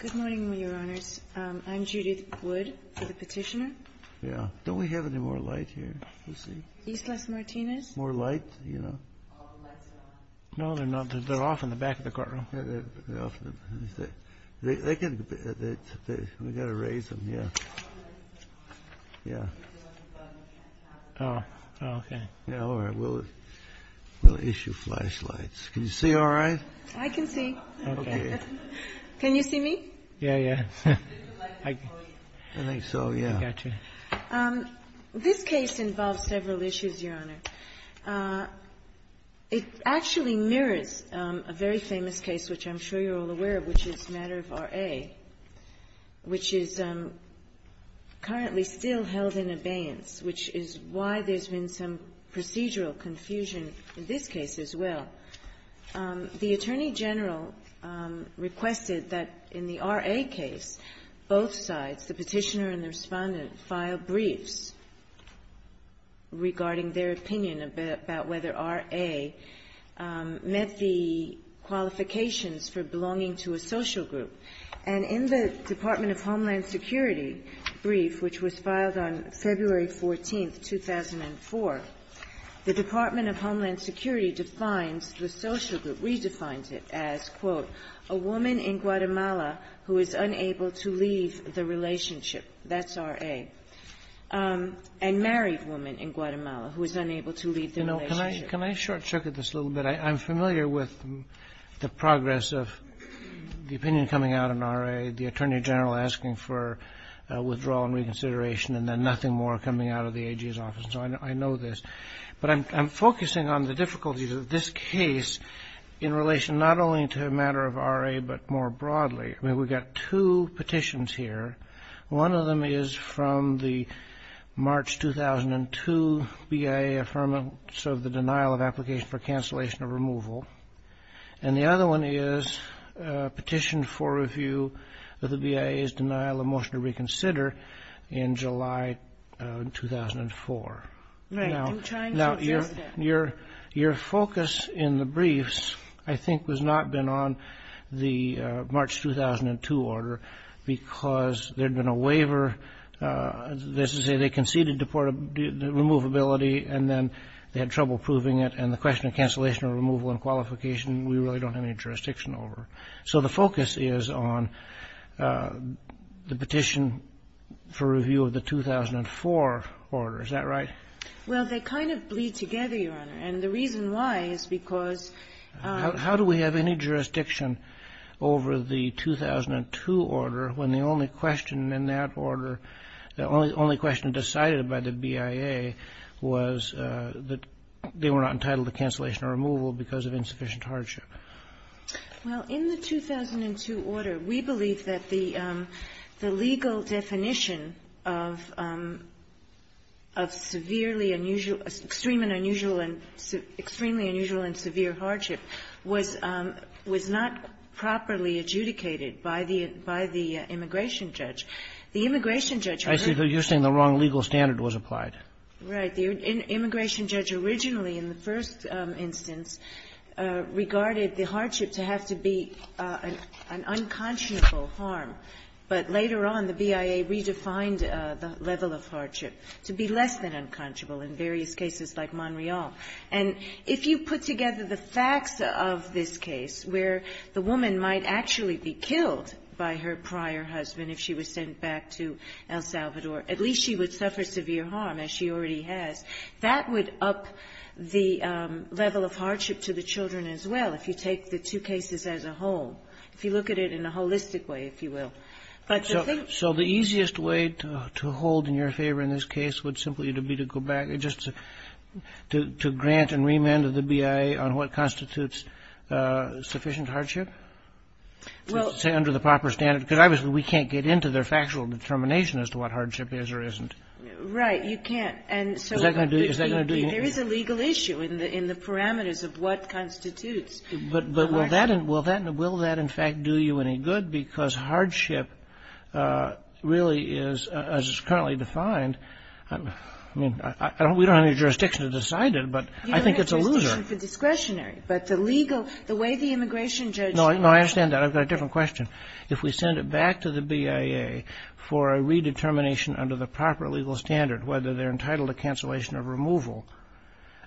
Good morning, Your Honors. I'm Judith Wood for the petitioner. Yeah. Don't we have any more light here? Let's see. East West Martinez? More light, you know. All the lights are off. No, they're not. They're off in the back of the courtroom. Yeah, they're off. We've got to raise them, yeah. Yeah. Oh, okay. Yeah, all right. We'll issue flashlights. Can you see all right? I can see. Okay. Can you see me? Yeah, yeah. I think so, yeah. I got you. This case involves several issues, Your Honor. It actually mirrors a very famous case, which I'm sure you're all aware of, which is the matter of R.A., which is currently still held in abeyance, which is why there's been some procedural confusion in this case as well. The Attorney General requested that in the R.A. case, both sides, the petitioner and the Respondent, file briefs regarding their opinion about whether R.A. met the qualifications for belonging to a social group. And in the Department of Homeland Security brief, which was filed on February 14th, 2004, the Department of Homeland Security defines the social group, redefines it as, quote, a woman in Guatemala who is unable to leave the relationship. That's R.A. And married woman in Guatemala who is unable to leave the relationship. You know, can I short-circuit this a little bit? I'm familiar with the progress of the opinion coming out in R.A., the Attorney General asking for withdrawal and reconsideration, and then nothing more coming out of the AG's office. So I know this. But I'm focusing on the difficulties of this case in relation not only to a matter of R.A., but more broadly. I mean, we've got two petitions here. One of them is from the March 2002 BIA Affirmative of the Denial of Application for Cancellation of Removal. And the other one is a petition for review of the BIA's denial of motion to reconsider in July 2004. Now, your focus in the briefs, I think, has not been on the March 2002 order because there had been a waiver. They conceded the removability, and then they had trouble proving it. And the question of cancellation or removal and qualification, we really don't have any jurisdiction over. So the focus is on the petition for review of the 2004 order. Is that right? Well, they kind of bleed together, Your Honor. And the reason why is because — How do we have any jurisdiction over the 2002 order when the only question in that order, the only question decided by the BIA was that they were not entitled to cancellation or removal because of insufficient hardship? Well, in the 2002 order, we believe that the legal definition of severely unusual — extreme and unusual and — extremely unusual and severe hardship was not properly adjudicated by the immigration judge. The immigration judge — I see that you're saying the wrong legal standard was applied. Right. The immigration judge originally, in the first instance, regarded the hardship to have to be an unconscionable harm. But later on, the BIA redefined the level of hardship to be less than unconscionable in various cases like Montreal. And if you put together the facts of this case where the woman might actually be killed by her prior husband if she was sent back to El Salvador, at least she would suffer severe harm, as she already has. That would up the level of hardship to the children as well, if you take the two cases as a whole, if you look at it in a holistic way, if you will. So the easiest way to hold in your favor in this case would simply be to go back to grant and remand of the BIA on what constitutes sufficient hardship? Well — Say under the proper standard, because obviously we can't get into their factual determination as to what hardship is or isn't. Right. You can't. And so — Is that going to do — There is a legal issue in the parameters of what constitutes a hardship. But will that in fact do you any good? Because hardship really is, as it's currently defined — I mean, we don't have any jurisdiction to decide it, but I think it's a loser. You don't have jurisdiction for discretionary, but the legal — the way the immigration judge — No, I understand that. I've got a different question. If we send it back to the BIA for a redetermination under the proper legal standard, whether they're entitled to cancellation or removal,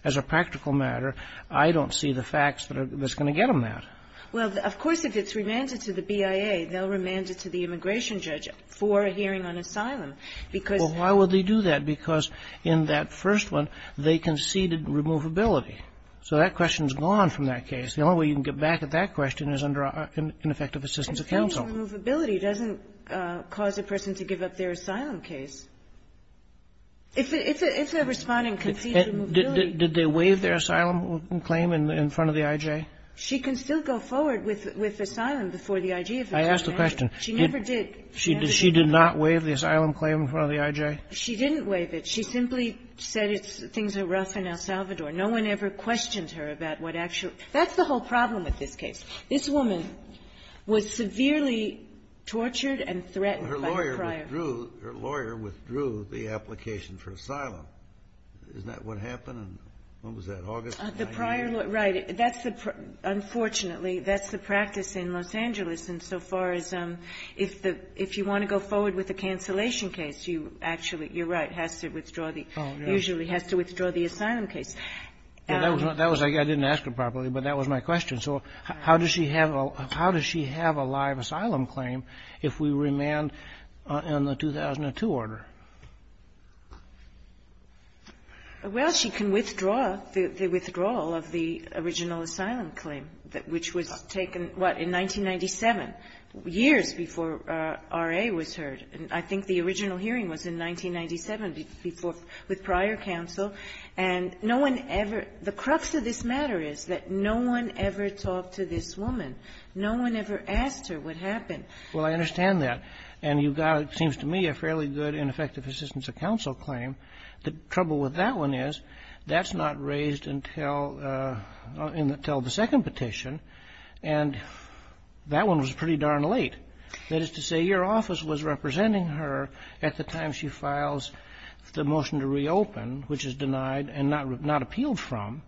as a practical matter, I don't see the facts that's going to get them that. Well, of course, if it's remanded to the BIA, they'll remand it to the immigration judge for a hearing on asylum. Because — Well, why would they do that? Because in that first one, they conceded removability. So that question's gone from that case. The only way you can get back at that question is under ineffective assistance of counsel. Conceded removability doesn't cause a person to give up their asylum case. It's a responding conceded removability. Did they waive their asylum claim in front of the IJ? She can still go forward with asylum before the IJ. I asked the question. She never did. She did not waive the asylum claim in front of the IJ? She didn't waive it. She simply said it's — things are rough in El Salvador. No one ever questioned her about what actually — that's the whole problem with this case. This woman was severely tortured and threatened by the prior — Her lawyer withdrew — her lawyer withdrew the application for asylum. Isn't that what happened? When was that, August? The prior — right. That's the — unfortunately, that's the practice in Los Angeles insofar as if the — if you want to go forward with a cancellation case, you actually — you're right, has to withdraw the — usually has to withdraw the asylum case. That was — I didn't ask her properly, but that was my question. So how does she have a live asylum claim if we remand in the 2002 order? Well, she can withdraw the — the withdrawal of the original asylum claim, which was taken, what, in 1997, years before R.A. was heard. And I think the original hearing was in 1997 before — with prior counsel. And no one ever — the crux of this matter is that no one ever talked to this woman. No one ever asked her what happened. Well, I understand that. And you got, it seems to me, a fairly good ineffective assistance of counsel claim. The trouble with that one is that's not raised until — until the second petition. And that one was pretty darn late. That is to say, your office was representing her at the time she files the motion to reopen, which is denied and not appealed from.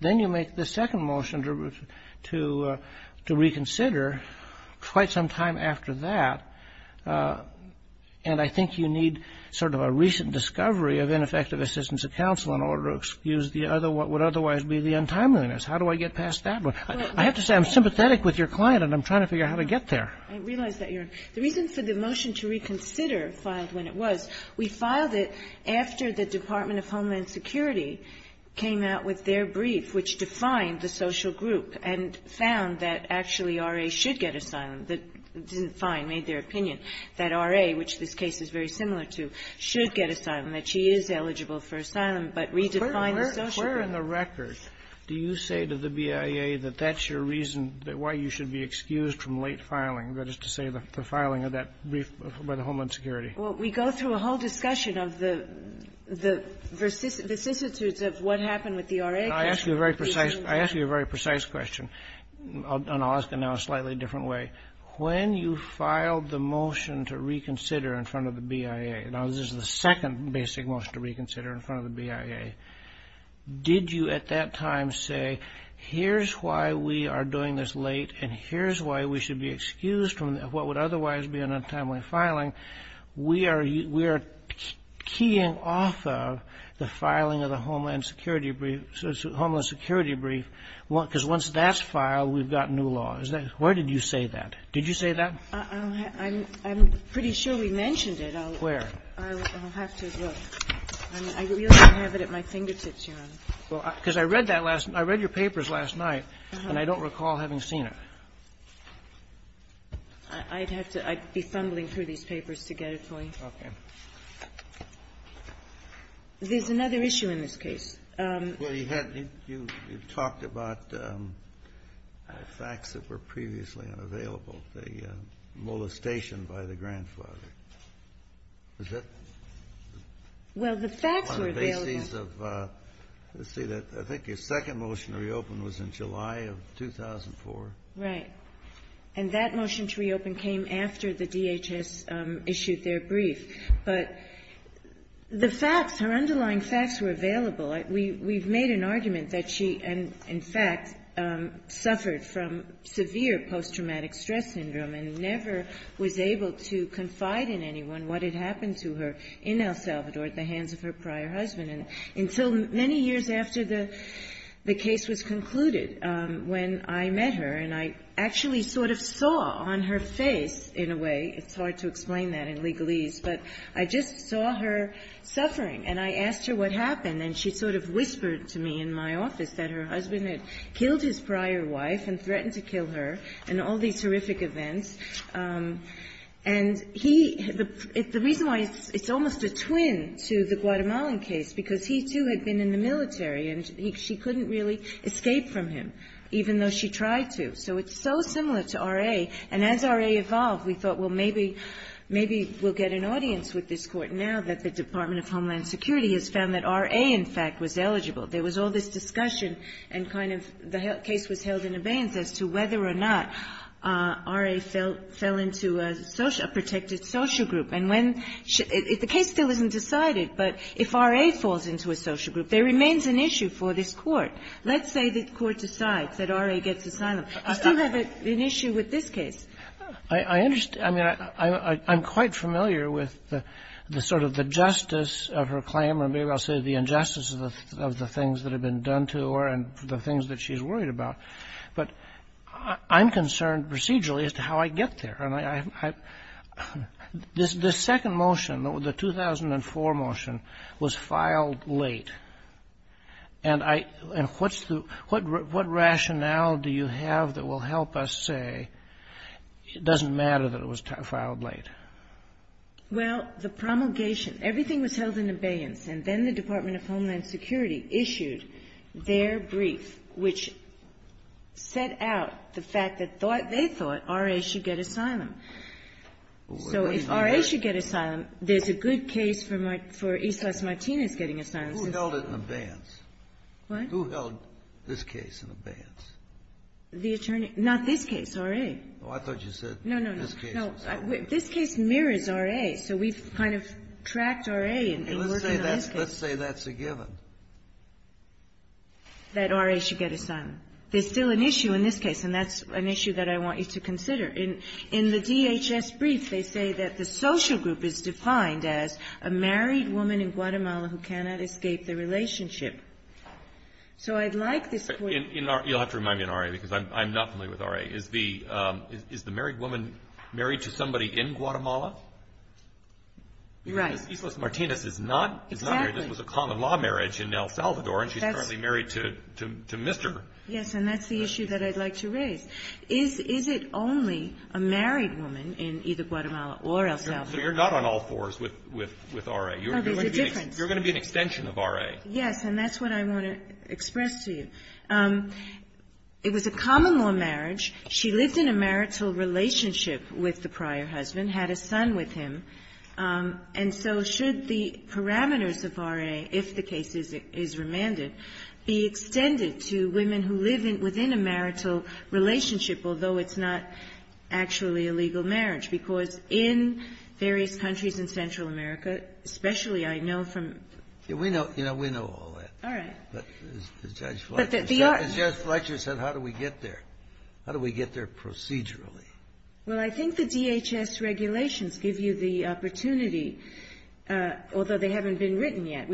Then you make the second motion to — to reconsider quite some time after that. And I think you need sort of a recent discovery of ineffective assistance of counsel in order to excuse the other — what would otherwise be the untimeliness. How do I get past that one? I have to say, I'm sympathetic with your client, and I'm trying to figure out how to get there. I realize that, Your Honor. The reason for the motion to reconsider filed when it was, we filed it after the Department of Homeland Security came out with their brief, which defined the social group and found that actually R.A. should get asylum. It didn't find, made their opinion, that R.A., which this case is very similar to, should get asylum, that she is eligible for asylum, but redefined the social group. Where in the record do you say to the BIA that that's your reason why you should be excused from late filing, that is to say, the filing of that brief by the Homeland Security? Well, we go through a whole discussion of the vicissitudes of what happened with the R.A. I'll ask you a very precise question, and I'll ask it now a slightly different way. When you filed the motion to reconsider in front of the BIA — now, this is the second basic motion to reconsider in front of the BIA — did you at that time say, here's why we are doing this late and here's why we should be excused from what would we are keying off of the filing of the Homeland Security brief, because once that's filed, we've got new laws? Where did you say that? Did you say that? I'm pretty sure we mentioned it. Where? I'll have to look. I really don't have it at my fingertips, Your Honor. Well, because I read that last — I read your papers last night, and I don't recall having seen it. I'd have to — I'd be fumbling through these papers to get it to me. Okay. There's another issue in this case. Well, you had — you talked about facts that were previously unavailable, the molestation by the grandfather. Was that on the basis of — Well, the facts were available. Let's see. I think your second motion to reopen was in July of 2004. Right. And that motion to reopen came after the DHS issued their brief. But the facts, her underlying facts were available. We've made an argument that she, in fact, suffered from severe post-traumatic stress syndrome and never was able to confide in anyone what had happened to her in El Salvador at the hands of her prior husband. And until many years after the case was concluded, when I met her and I actually sort of saw on her face, in a way — it's hard to explain that in legalese, but I just saw her suffering and I asked her what happened, and she sort of whispered to me in my office that her husband had killed his prior wife and threatened to kill her and all these horrific And she couldn't really escape from him, even though she tried to. So it's so similar to R.A. And as R.A. evolved, we thought, well, maybe we'll get an audience with this Court now that the Department of Homeland Security has found that R.A., in fact, was eligible. There was all this discussion and kind of the case was held in abeyance as to whether or not R.A. fell into a protected social group. And when — the case still isn't decided, but if R.A. falls into a social group, there remains an issue for this Court. Let's say the Court decides that R.A. gets asylum. I still have an issue with this case. I understand. I mean, I'm quite familiar with the sort of the justice of her claim, or maybe I'll say the injustice of the things that have been done to her and the things that she's worried about. But I'm concerned procedurally as to how I get there. And I — this second motion, the 2004 motion, was filed late. And I — and what's the — what rationale do you have that will help us say it doesn't matter that it was filed late? Well, the promulgation — everything was held in abeyance. And then the Department of Homeland Security issued their brief, which set out the fact that they thought R.A. should get asylum. So if R.A. should get asylum, there's a good case for East West Martinez getting asylum. Who held it in abeyance? What? Who held this case in abeyance? The attorney — not this case, R.A. Oh, I thought you said this case. No, no, no. This case mirrors R.A. So we've kind of tracked R.A. and been working on this case. Let's say that's a given. That R.A. should get asylum. There's still an issue in this case, and that's an issue that I want you to consider. In the DHS brief, they say that the social group is defined as a married woman in Guatemala who cannot escape the relationship. So I'd like this point — You'll have to remind me in R.A., because I'm not familiar with R.A. Is the married woman married to somebody in Guatemala? Right. Because East West Martinez is not married. Exactly. This was a common-law marriage in El Salvador, and she's currently married to Mr. Yes, and that's the issue that I'd like to raise. Is it only a married woman in either Guatemala or El Salvador? So you're not on all fours with R.A. Oh, there's a difference. You're going to be an extension of R.A. Yes, and that's what I want to express to you. It was a common-law marriage. She lived in a marital relationship with the prior husband, had a son with him. And so should the parameters of R.A., if the case is remanded, be extended to women who live within a marital relationship, although it's not actually a legal marriage? Because in various countries in Central America, especially I know from — We know all that. All right. But as Judge Fletcher said, how do we get there? How do we get there procedurally? Well, I think the DHS regulations give you the opportunity, although they haven't been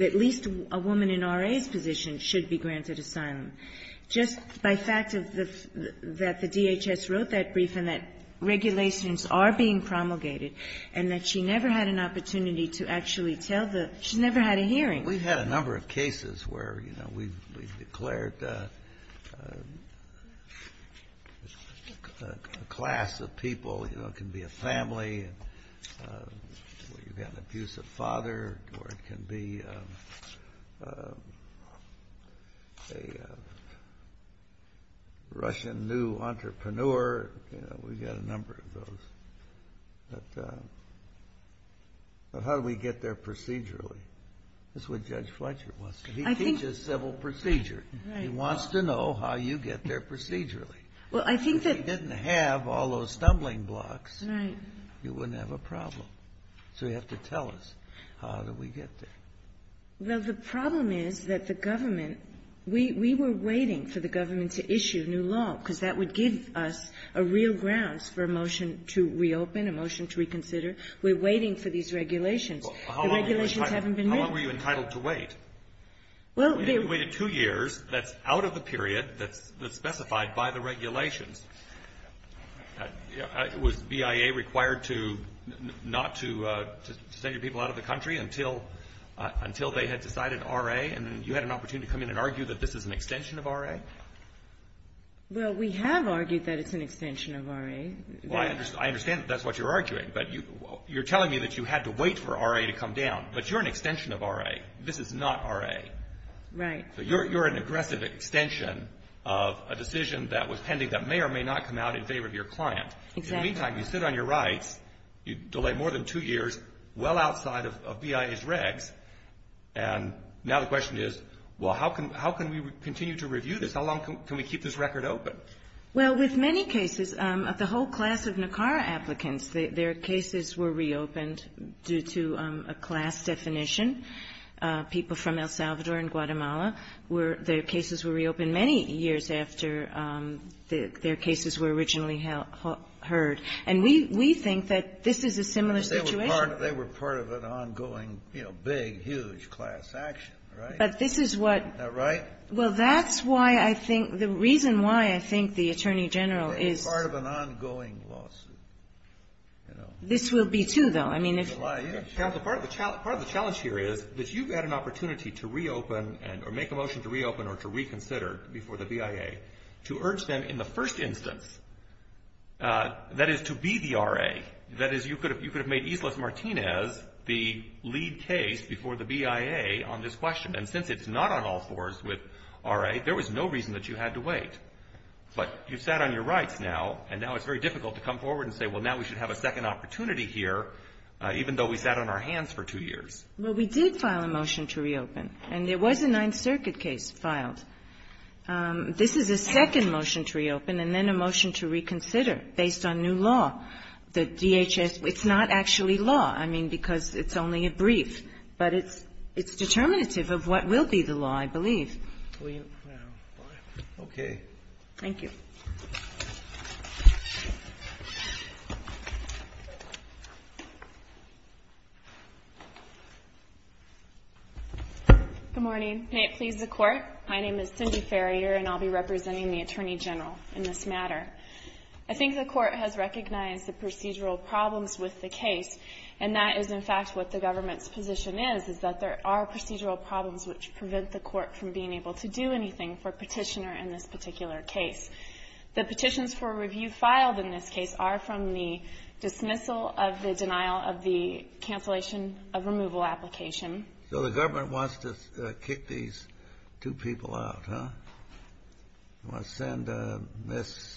at least a woman in R.A.'s position should be granted asylum. Just by fact that the DHS wrote that brief and that regulations are being promulgated and that she never had an opportunity to actually tell the — she never had a hearing. We've had a number of cases where, you know, we've declared a class of people, you know, it can be a family, where you've got an abusive father, or it can be a Russian new entrepreneur. You know, we've got a number of those. But how do we get there procedurally? That's what Judge Fletcher wants to know. He teaches civil procedure. He wants to know how you get there procedurally. Well, I think that — If we didn't have all those stumbling blocks, you wouldn't have a problem. So you have to tell us, how do we get there? Well, the problem is that the government — we were waiting for the government to issue new law, because that would give us a real grounds for a motion to reopen, a motion to reconsider. We're waiting for these regulations. The regulations haven't been moved. Well, how long were you entitled to wait? Well, the — You waited two years. That's out of the period that's specified by the regulations. Was BIA required to — not to send your people out of the country until they had decided R.A.? And then you had an opportunity to come in and argue that this is an extension of R.A.? Well, we have argued that it's an extension of R.A. Well, I understand that that's what you're arguing. But you're telling me that you had to wait for R.A. to come down. But you're an extension of R.A. This is not R.A. Right. So you're an aggressive extension of a decision that was pending that may or may not come out in favor of your client. Exactly. In the meantime, you sit on your rights. You delayed more than two years, well outside of BIA's regs. And now the question is, well, how can we continue to review this? How long can we keep this record open? Well, with many cases, the whole class of NACARA applicants, their cases were reopened due to a class definition. People from El Salvador and Guatemala, their cases were reopened many years after their cases were originally heard. And we think that this is a similar situation. But they were part of an ongoing, you know, big, huge class action, right? But this is what — Isn't that right? Well, that's why I think the reason why I think the Attorney General is — They were part of an ongoing lawsuit. This will be, too, though. I mean, if — Part of the challenge here is that you've had an opportunity to reopen or make a motion to reopen or to reconsider before the BIA, to urge them in the first instance, that is, to be the RA. That is, you could have made Islas Martinez the lead case before the BIA on this question. And since it's not on all fours with RA, there was no reason that you had to wait. But you've sat on your rights now, and now it's very difficult to come forward and say, well, now we should have a second opportunity here, even though we sat on our hands for two years. Well, we did file a motion to reopen. And there was a Ninth Circuit case filed. This is a second motion to reopen and then a motion to reconsider based on new law. The DHS — it's not actually law, I mean, because it's only a brief. But it's determinative of what will be the law, I believe. Okay. Thank you. Thank you. Good morning. May it please the Court, my name is Cindy Farrier, and I'll be representing the Attorney General in this matter. I think the Court has recognized the procedural problems with the case, and that is, in fact, what the government's position is, is that there are procedural problems which prevent the Court from being able to do anything for a petitioner in this particular case. The petitions for review filed in this case are from the dismissal of the denial of the cancellation of removal application. So the government wants to kick these two people out, huh? They want to send Ms.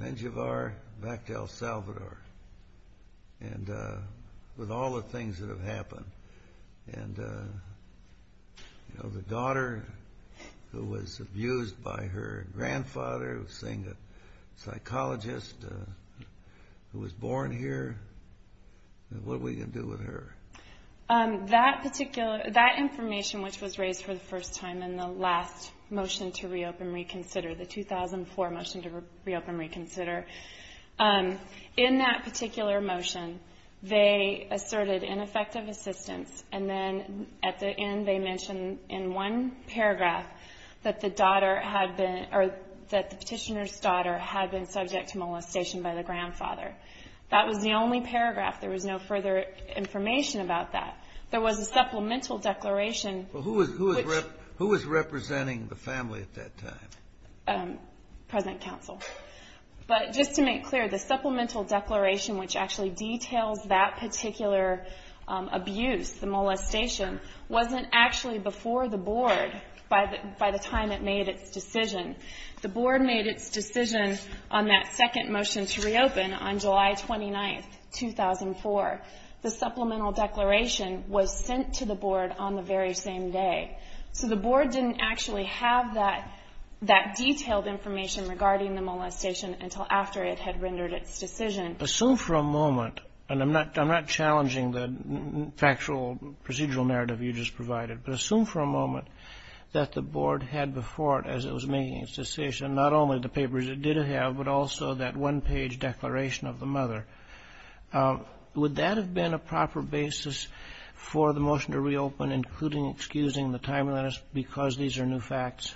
Menjivar back to El Salvador with all the things that have happened. And, you know, the daughter who was abused by her grandfather, seeing a psychologist who was born here, what are we going to do with her? That information which was raised for the first time in the last motion to reopen, reconsider, in that particular motion they asserted ineffective assistance, and then at the end they mentioned in one paragraph that the petitioner's daughter had been subject to molestation by the grandfather. That was the only paragraph. There was no further information about that. There was a supplemental declaration. Who was representing the family at that time? Present counsel. But just to make clear, the supplemental declaration which actually details that particular abuse, the molestation, wasn't actually before the Board by the time it made its decision. The Board made its decision on that second motion to reopen on July 29, 2004. The supplemental declaration was sent to the Board on the very same day. So the Board didn't actually have that detailed information regarding the molestation until after it had rendered its decision. Assume for a moment, and I'm not challenging the factual procedural narrative you just provided, but assume for a moment that the Board had before it as it was making its decision, not only the papers it did have, but also that one-page declaration of the mother. Would that have been a proper basis for the motion to reopen, including excusing the timeliness because these are new facts?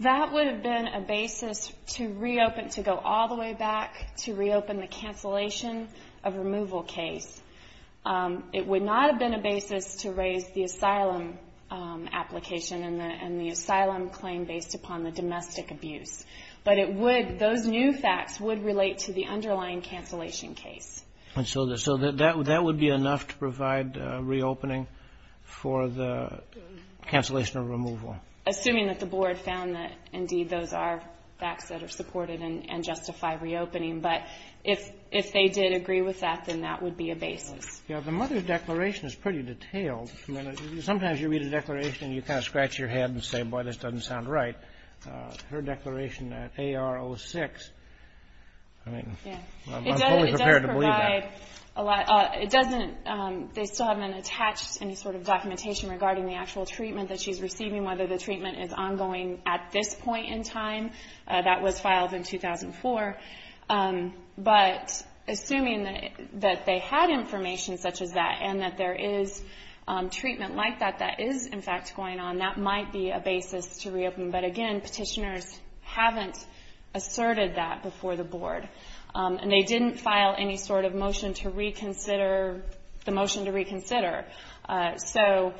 That would have been a basis to reopen, to go all the way back to reopen the cancellation of removal case. It would not have been a basis to raise the asylum application and the asylum claim based upon the domestic abuse. But those new facts would relate to the underlying cancellation case. So that would be enough to provide reopening for the cancellation of removal? Assuming that the Board found that, indeed, those are facts that are supported and justify reopening. But if they did agree with that, then that would be a basis. The mother's declaration is pretty detailed. Sometimes you read a declaration and you kind of scratch your head and say, boy, this doesn't sound right. Her declaration at AR06, I mean, I'm only prepared to believe that. It doesn't, they still haven't attached any sort of documentation regarding the actual treatment that she's receiving, whether the treatment is ongoing at this point in time. That was filed in 2004. But assuming that they had information such as that and that there is treatment like that that is, in fact, going on, then that might be a basis to reopen. But, again, Petitioners haven't asserted that before the Board. And they didn't file any sort of motion to reconsider, the motion to reconsider. So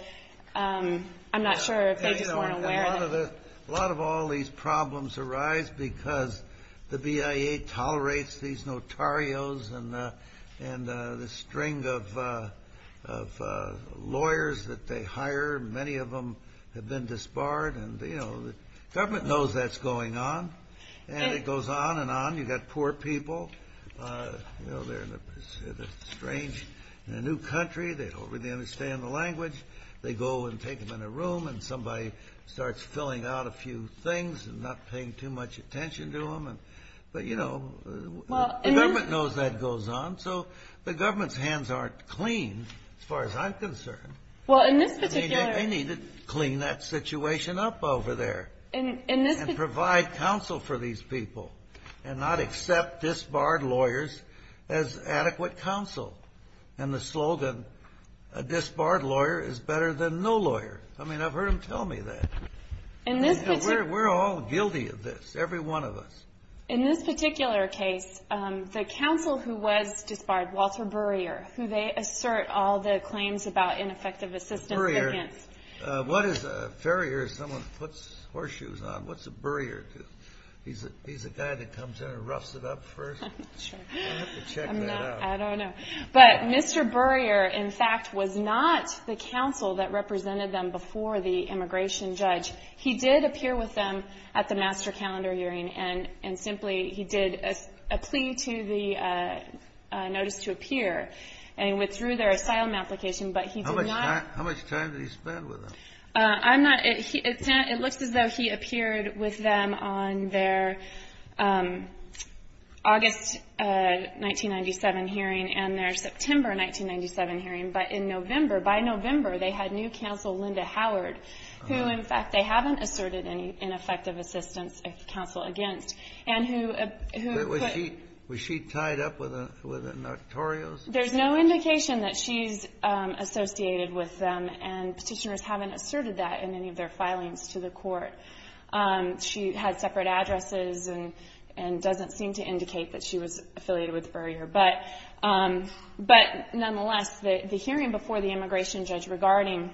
I'm not sure if they just weren't aware of it. A lot of all these problems arise because the BIA tolerates these notarios and the string of lawyers that they hire. Many of them have been disbarred. And the government knows that's going on. And it goes on and on. You've got poor people. They're in a strange new country. They don't really understand the language. They go and take them in a room and somebody starts filling out a few things and not paying too much attention to them. But, you know, the government knows that goes on. So the government's hands aren't clean as far as I'm concerned. I mean, they need to clean that situation up over there and provide counsel for these people and not accept disbarred lawyers as adequate counsel. And the slogan, a disbarred lawyer is better than no lawyer. I mean, I've heard them tell me that. We're all guilty of this, every one of us. In this particular case, the counsel who was disbarred, Walter Burrier, who they assert all the claims about ineffective assistance against. What is a farrier if someone puts horseshoes on? What's a burrier? He's a guy that comes in and roughs it up first? Sure. I don't have to check that out. I don't know. But Mr. Burrier, in fact, was not the counsel that represented them before the immigration judge. He did appear with them at the master calendar hearing, and simply he did a plea to the notice to appear and withdrew their asylum application. But he did not. How much time did he spend with them? I'm not. It looks as though he appeared with them on their August 1997 hearing and their September 1997 hearing. But in November, by November, they had new counsel, Linda Howard, who, in fact, they haven't asserted any ineffective assistance counsel against. Was she tied up with the Notorios? There's no indication that she's associated with them, and petitioners haven't asserted that in any of their filings to the court. She had separate addresses and doesn't seem to indicate that she was affiliated with Burrier. But nonetheless, the hearing before the immigration judge regarding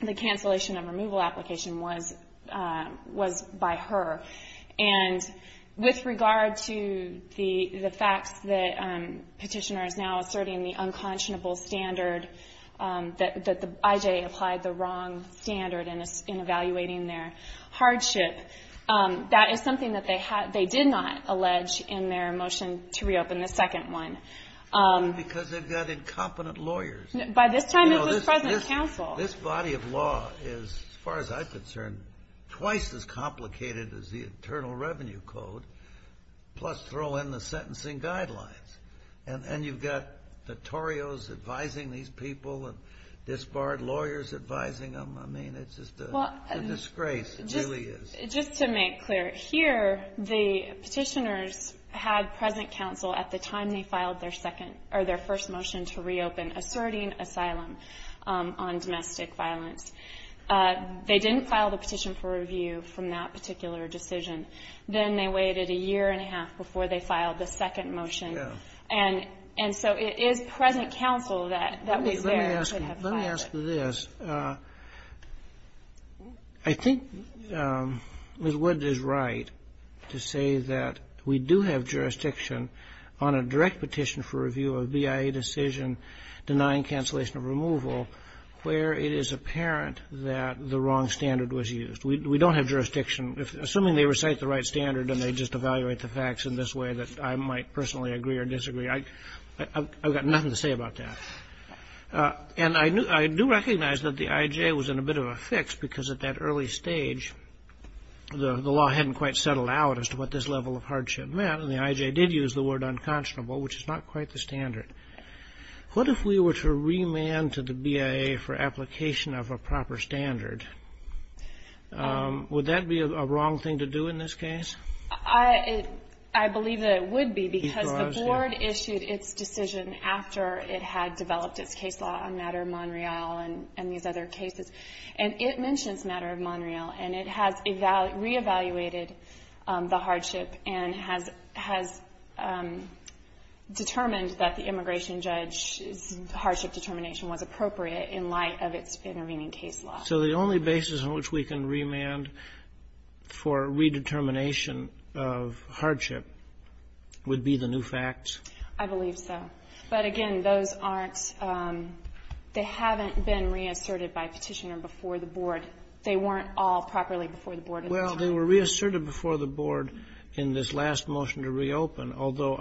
the cancellation of removal application was by her. And with regard to the facts that petitioner is now asserting the unconscionable standard that the IJA applied the wrong standard in evaluating their hardship, that is something that they did not allege in their motion to reopen the second one. Because they've got incompetent lawyers. By this time it was present counsel. This body of law is, as far as I'm concerned, twice as complicated as the Internal Revenue Code, plus throw in the sentencing guidelines. And you've got Notorios advising these people and disbarred lawyers advising them. I mean, it's just a disgrace. It really is. Just to make clear, here the petitioners had present counsel at the time they filed their second or their first motion to reopen asserting asylum on domestic violence. They didn't file the petition for review from that particular decision. Then they waited a year and a half before they filed the second motion. Let me ask you this. I think Ms. Wood is right to say that we do have jurisdiction on a direct petition for review of BIA decision denying cancellation of removal where it is apparent that the wrong standard was used. We don't have jurisdiction. Assuming they recite the right standard and they just evaluate the facts in this way that I might personally agree or disagree, I've got nothing to say about that. And I do recognize that the IJ was in a bit of a fix because at that early stage, the law hadn't quite settled out as to what this level of hardship meant, and the IJ did use the word unconscionable, which is not quite the standard. What if we were to remand to the BIA for application of a proper standard? Would that be a wrong thing to do in this case? I believe that it would be because the Board issued its decision after it had developed its case law on the matter of Montreal and these other cases. And it mentions the matter of Montreal, and it has reevaluated the hardship and has determined that the immigration judge's hardship determination was appropriate in light of its intervening case law. So the only basis on which we can remand for redetermination of hardship would be the new facts? I believe so. But, again, those aren't they haven't been reasserted by Petitioner before the Board. They weren't all properly before the Board at the time. Well, they were reasserted before the Board in this last motion to reopen, although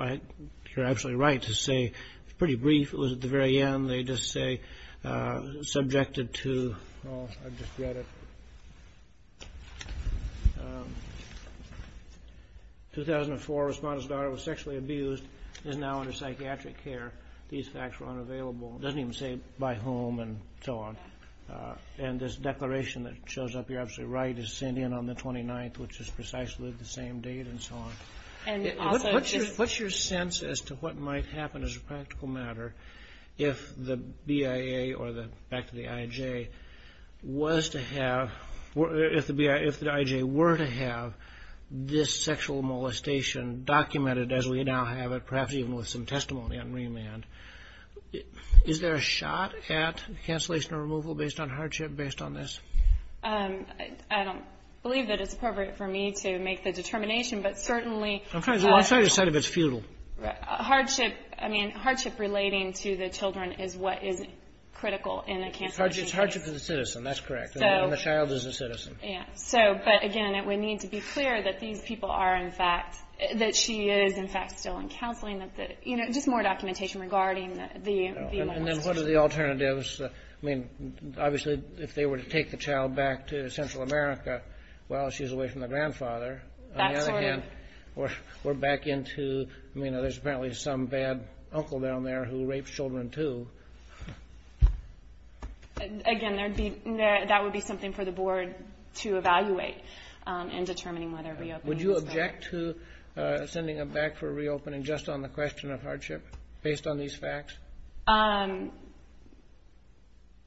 you're absolutely right to say it's pretty brief. It was at the very end. They just say, subjected to, oh, I've just read it. 2004, respondent's daughter was sexually abused and is now under psychiatric care. These facts were unavailable. It doesn't even say by whom and so on. And this declaration that shows up, you're absolutely right, is sent in on the 29th, which is precisely the same date and so on. What's your sense as to what might happen as a practical matter if the BIA or, back to the IJ, were to have this sexual molestation documented as we now have it, perhaps even with some testimony on remand? Is there a shot at cancellation or removal based on hardship based on this? I don't believe that it's appropriate for me to make the determination, but certainly hardship relating to the children is what is critical in a cancellation case. It's hardship to the citizen. That's correct. And the child is a citizen. But, again, we need to be clear that these people are, in fact, that she is, in fact, still in counseling. Just more documentation regarding the molestation. And then what are the alternatives? I mean, obviously, if they were to take the child back to Central America, well, she's away from the grandfather. On the other hand, we're back into, you know, there's apparently some bad uncle down there who raped children, too. Again, that would be something for the Board to evaluate in determining whether reopening is better. Would you object to sending them back for reopening just on the question of hardship based on these facts?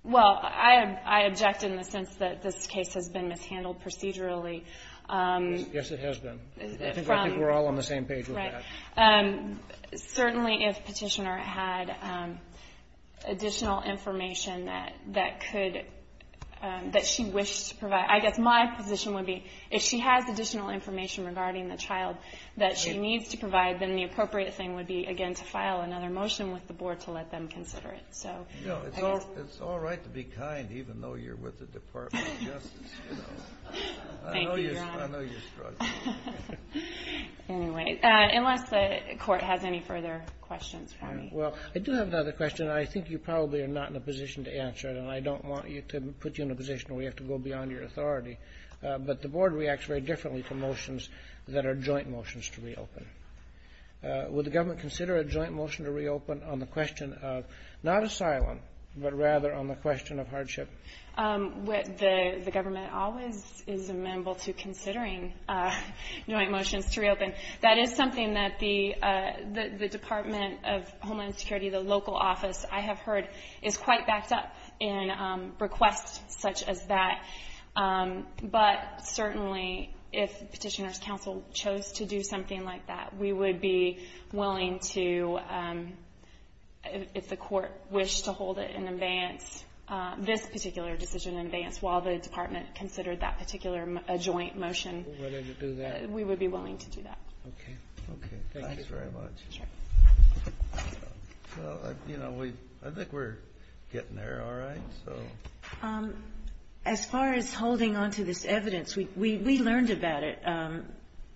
Well, I object in the sense that this case has been mishandled procedurally. Yes, it has been. I think we're all on the same page with that. Certainly, if Petitioner had additional information that she wished to provide, I guess my position would be if she has additional information regarding the child that she needs to provide, then the appropriate thing would be, again, to file another motion with the Board to let them consider it. It's all right to be kind, even though you're with the Department of Justice. I know you're struggling. Anyway, unless the Court has any further questions for me. Well, I do have another question. I think you probably are not in a position to answer it, and I don't want to put you in a position where you have to go beyond your authority. But the Board reacts very differently to motions that are joint motions to reopen. Would the government consider a joint motion to reopen on the question of not asylum, but rather on the question of hardship? The government always is amenable to considering joint motions to reopen. That is something that the Department of Homeland Security, the local office, I have heard, is quite backed up in requests such as that. But certainly if Petitioner's Council chose to do something like that, we would be willing to, if the Court wished to hold it in advance, this particular decision in advance, while the Department considered that particular joint motion, we would be willing to do that. Okay. Thank you very much. Sure. Well, you know, I think we're getting there, all right? As far as holding on to this evidence, we learned about it.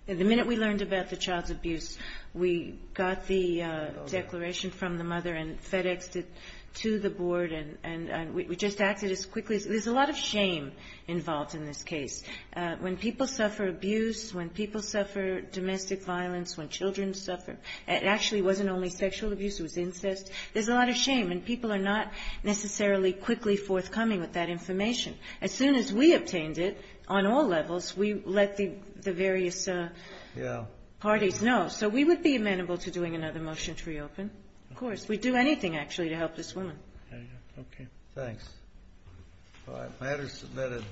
The minute we learned about the child's abuse, we got the declaration from the mother and FedExed it to the Board, and we just acted as quickly as we could. There's a lot of shame involved in this case. When people suffer abuse, when people suffer domestic violence, when children suffer, it actually wasn't only sexual abuse, it was incest. There's a lot of shame, and people are not necessarily quickly forthcoming with that information. As soon as we obtained it on all levels, we let the various parties know. So we would be amenable to doing another motion to reopen. Of course. We'd do anything, actually, to help this woman. Okay. Thanks. All right. Matters submitted.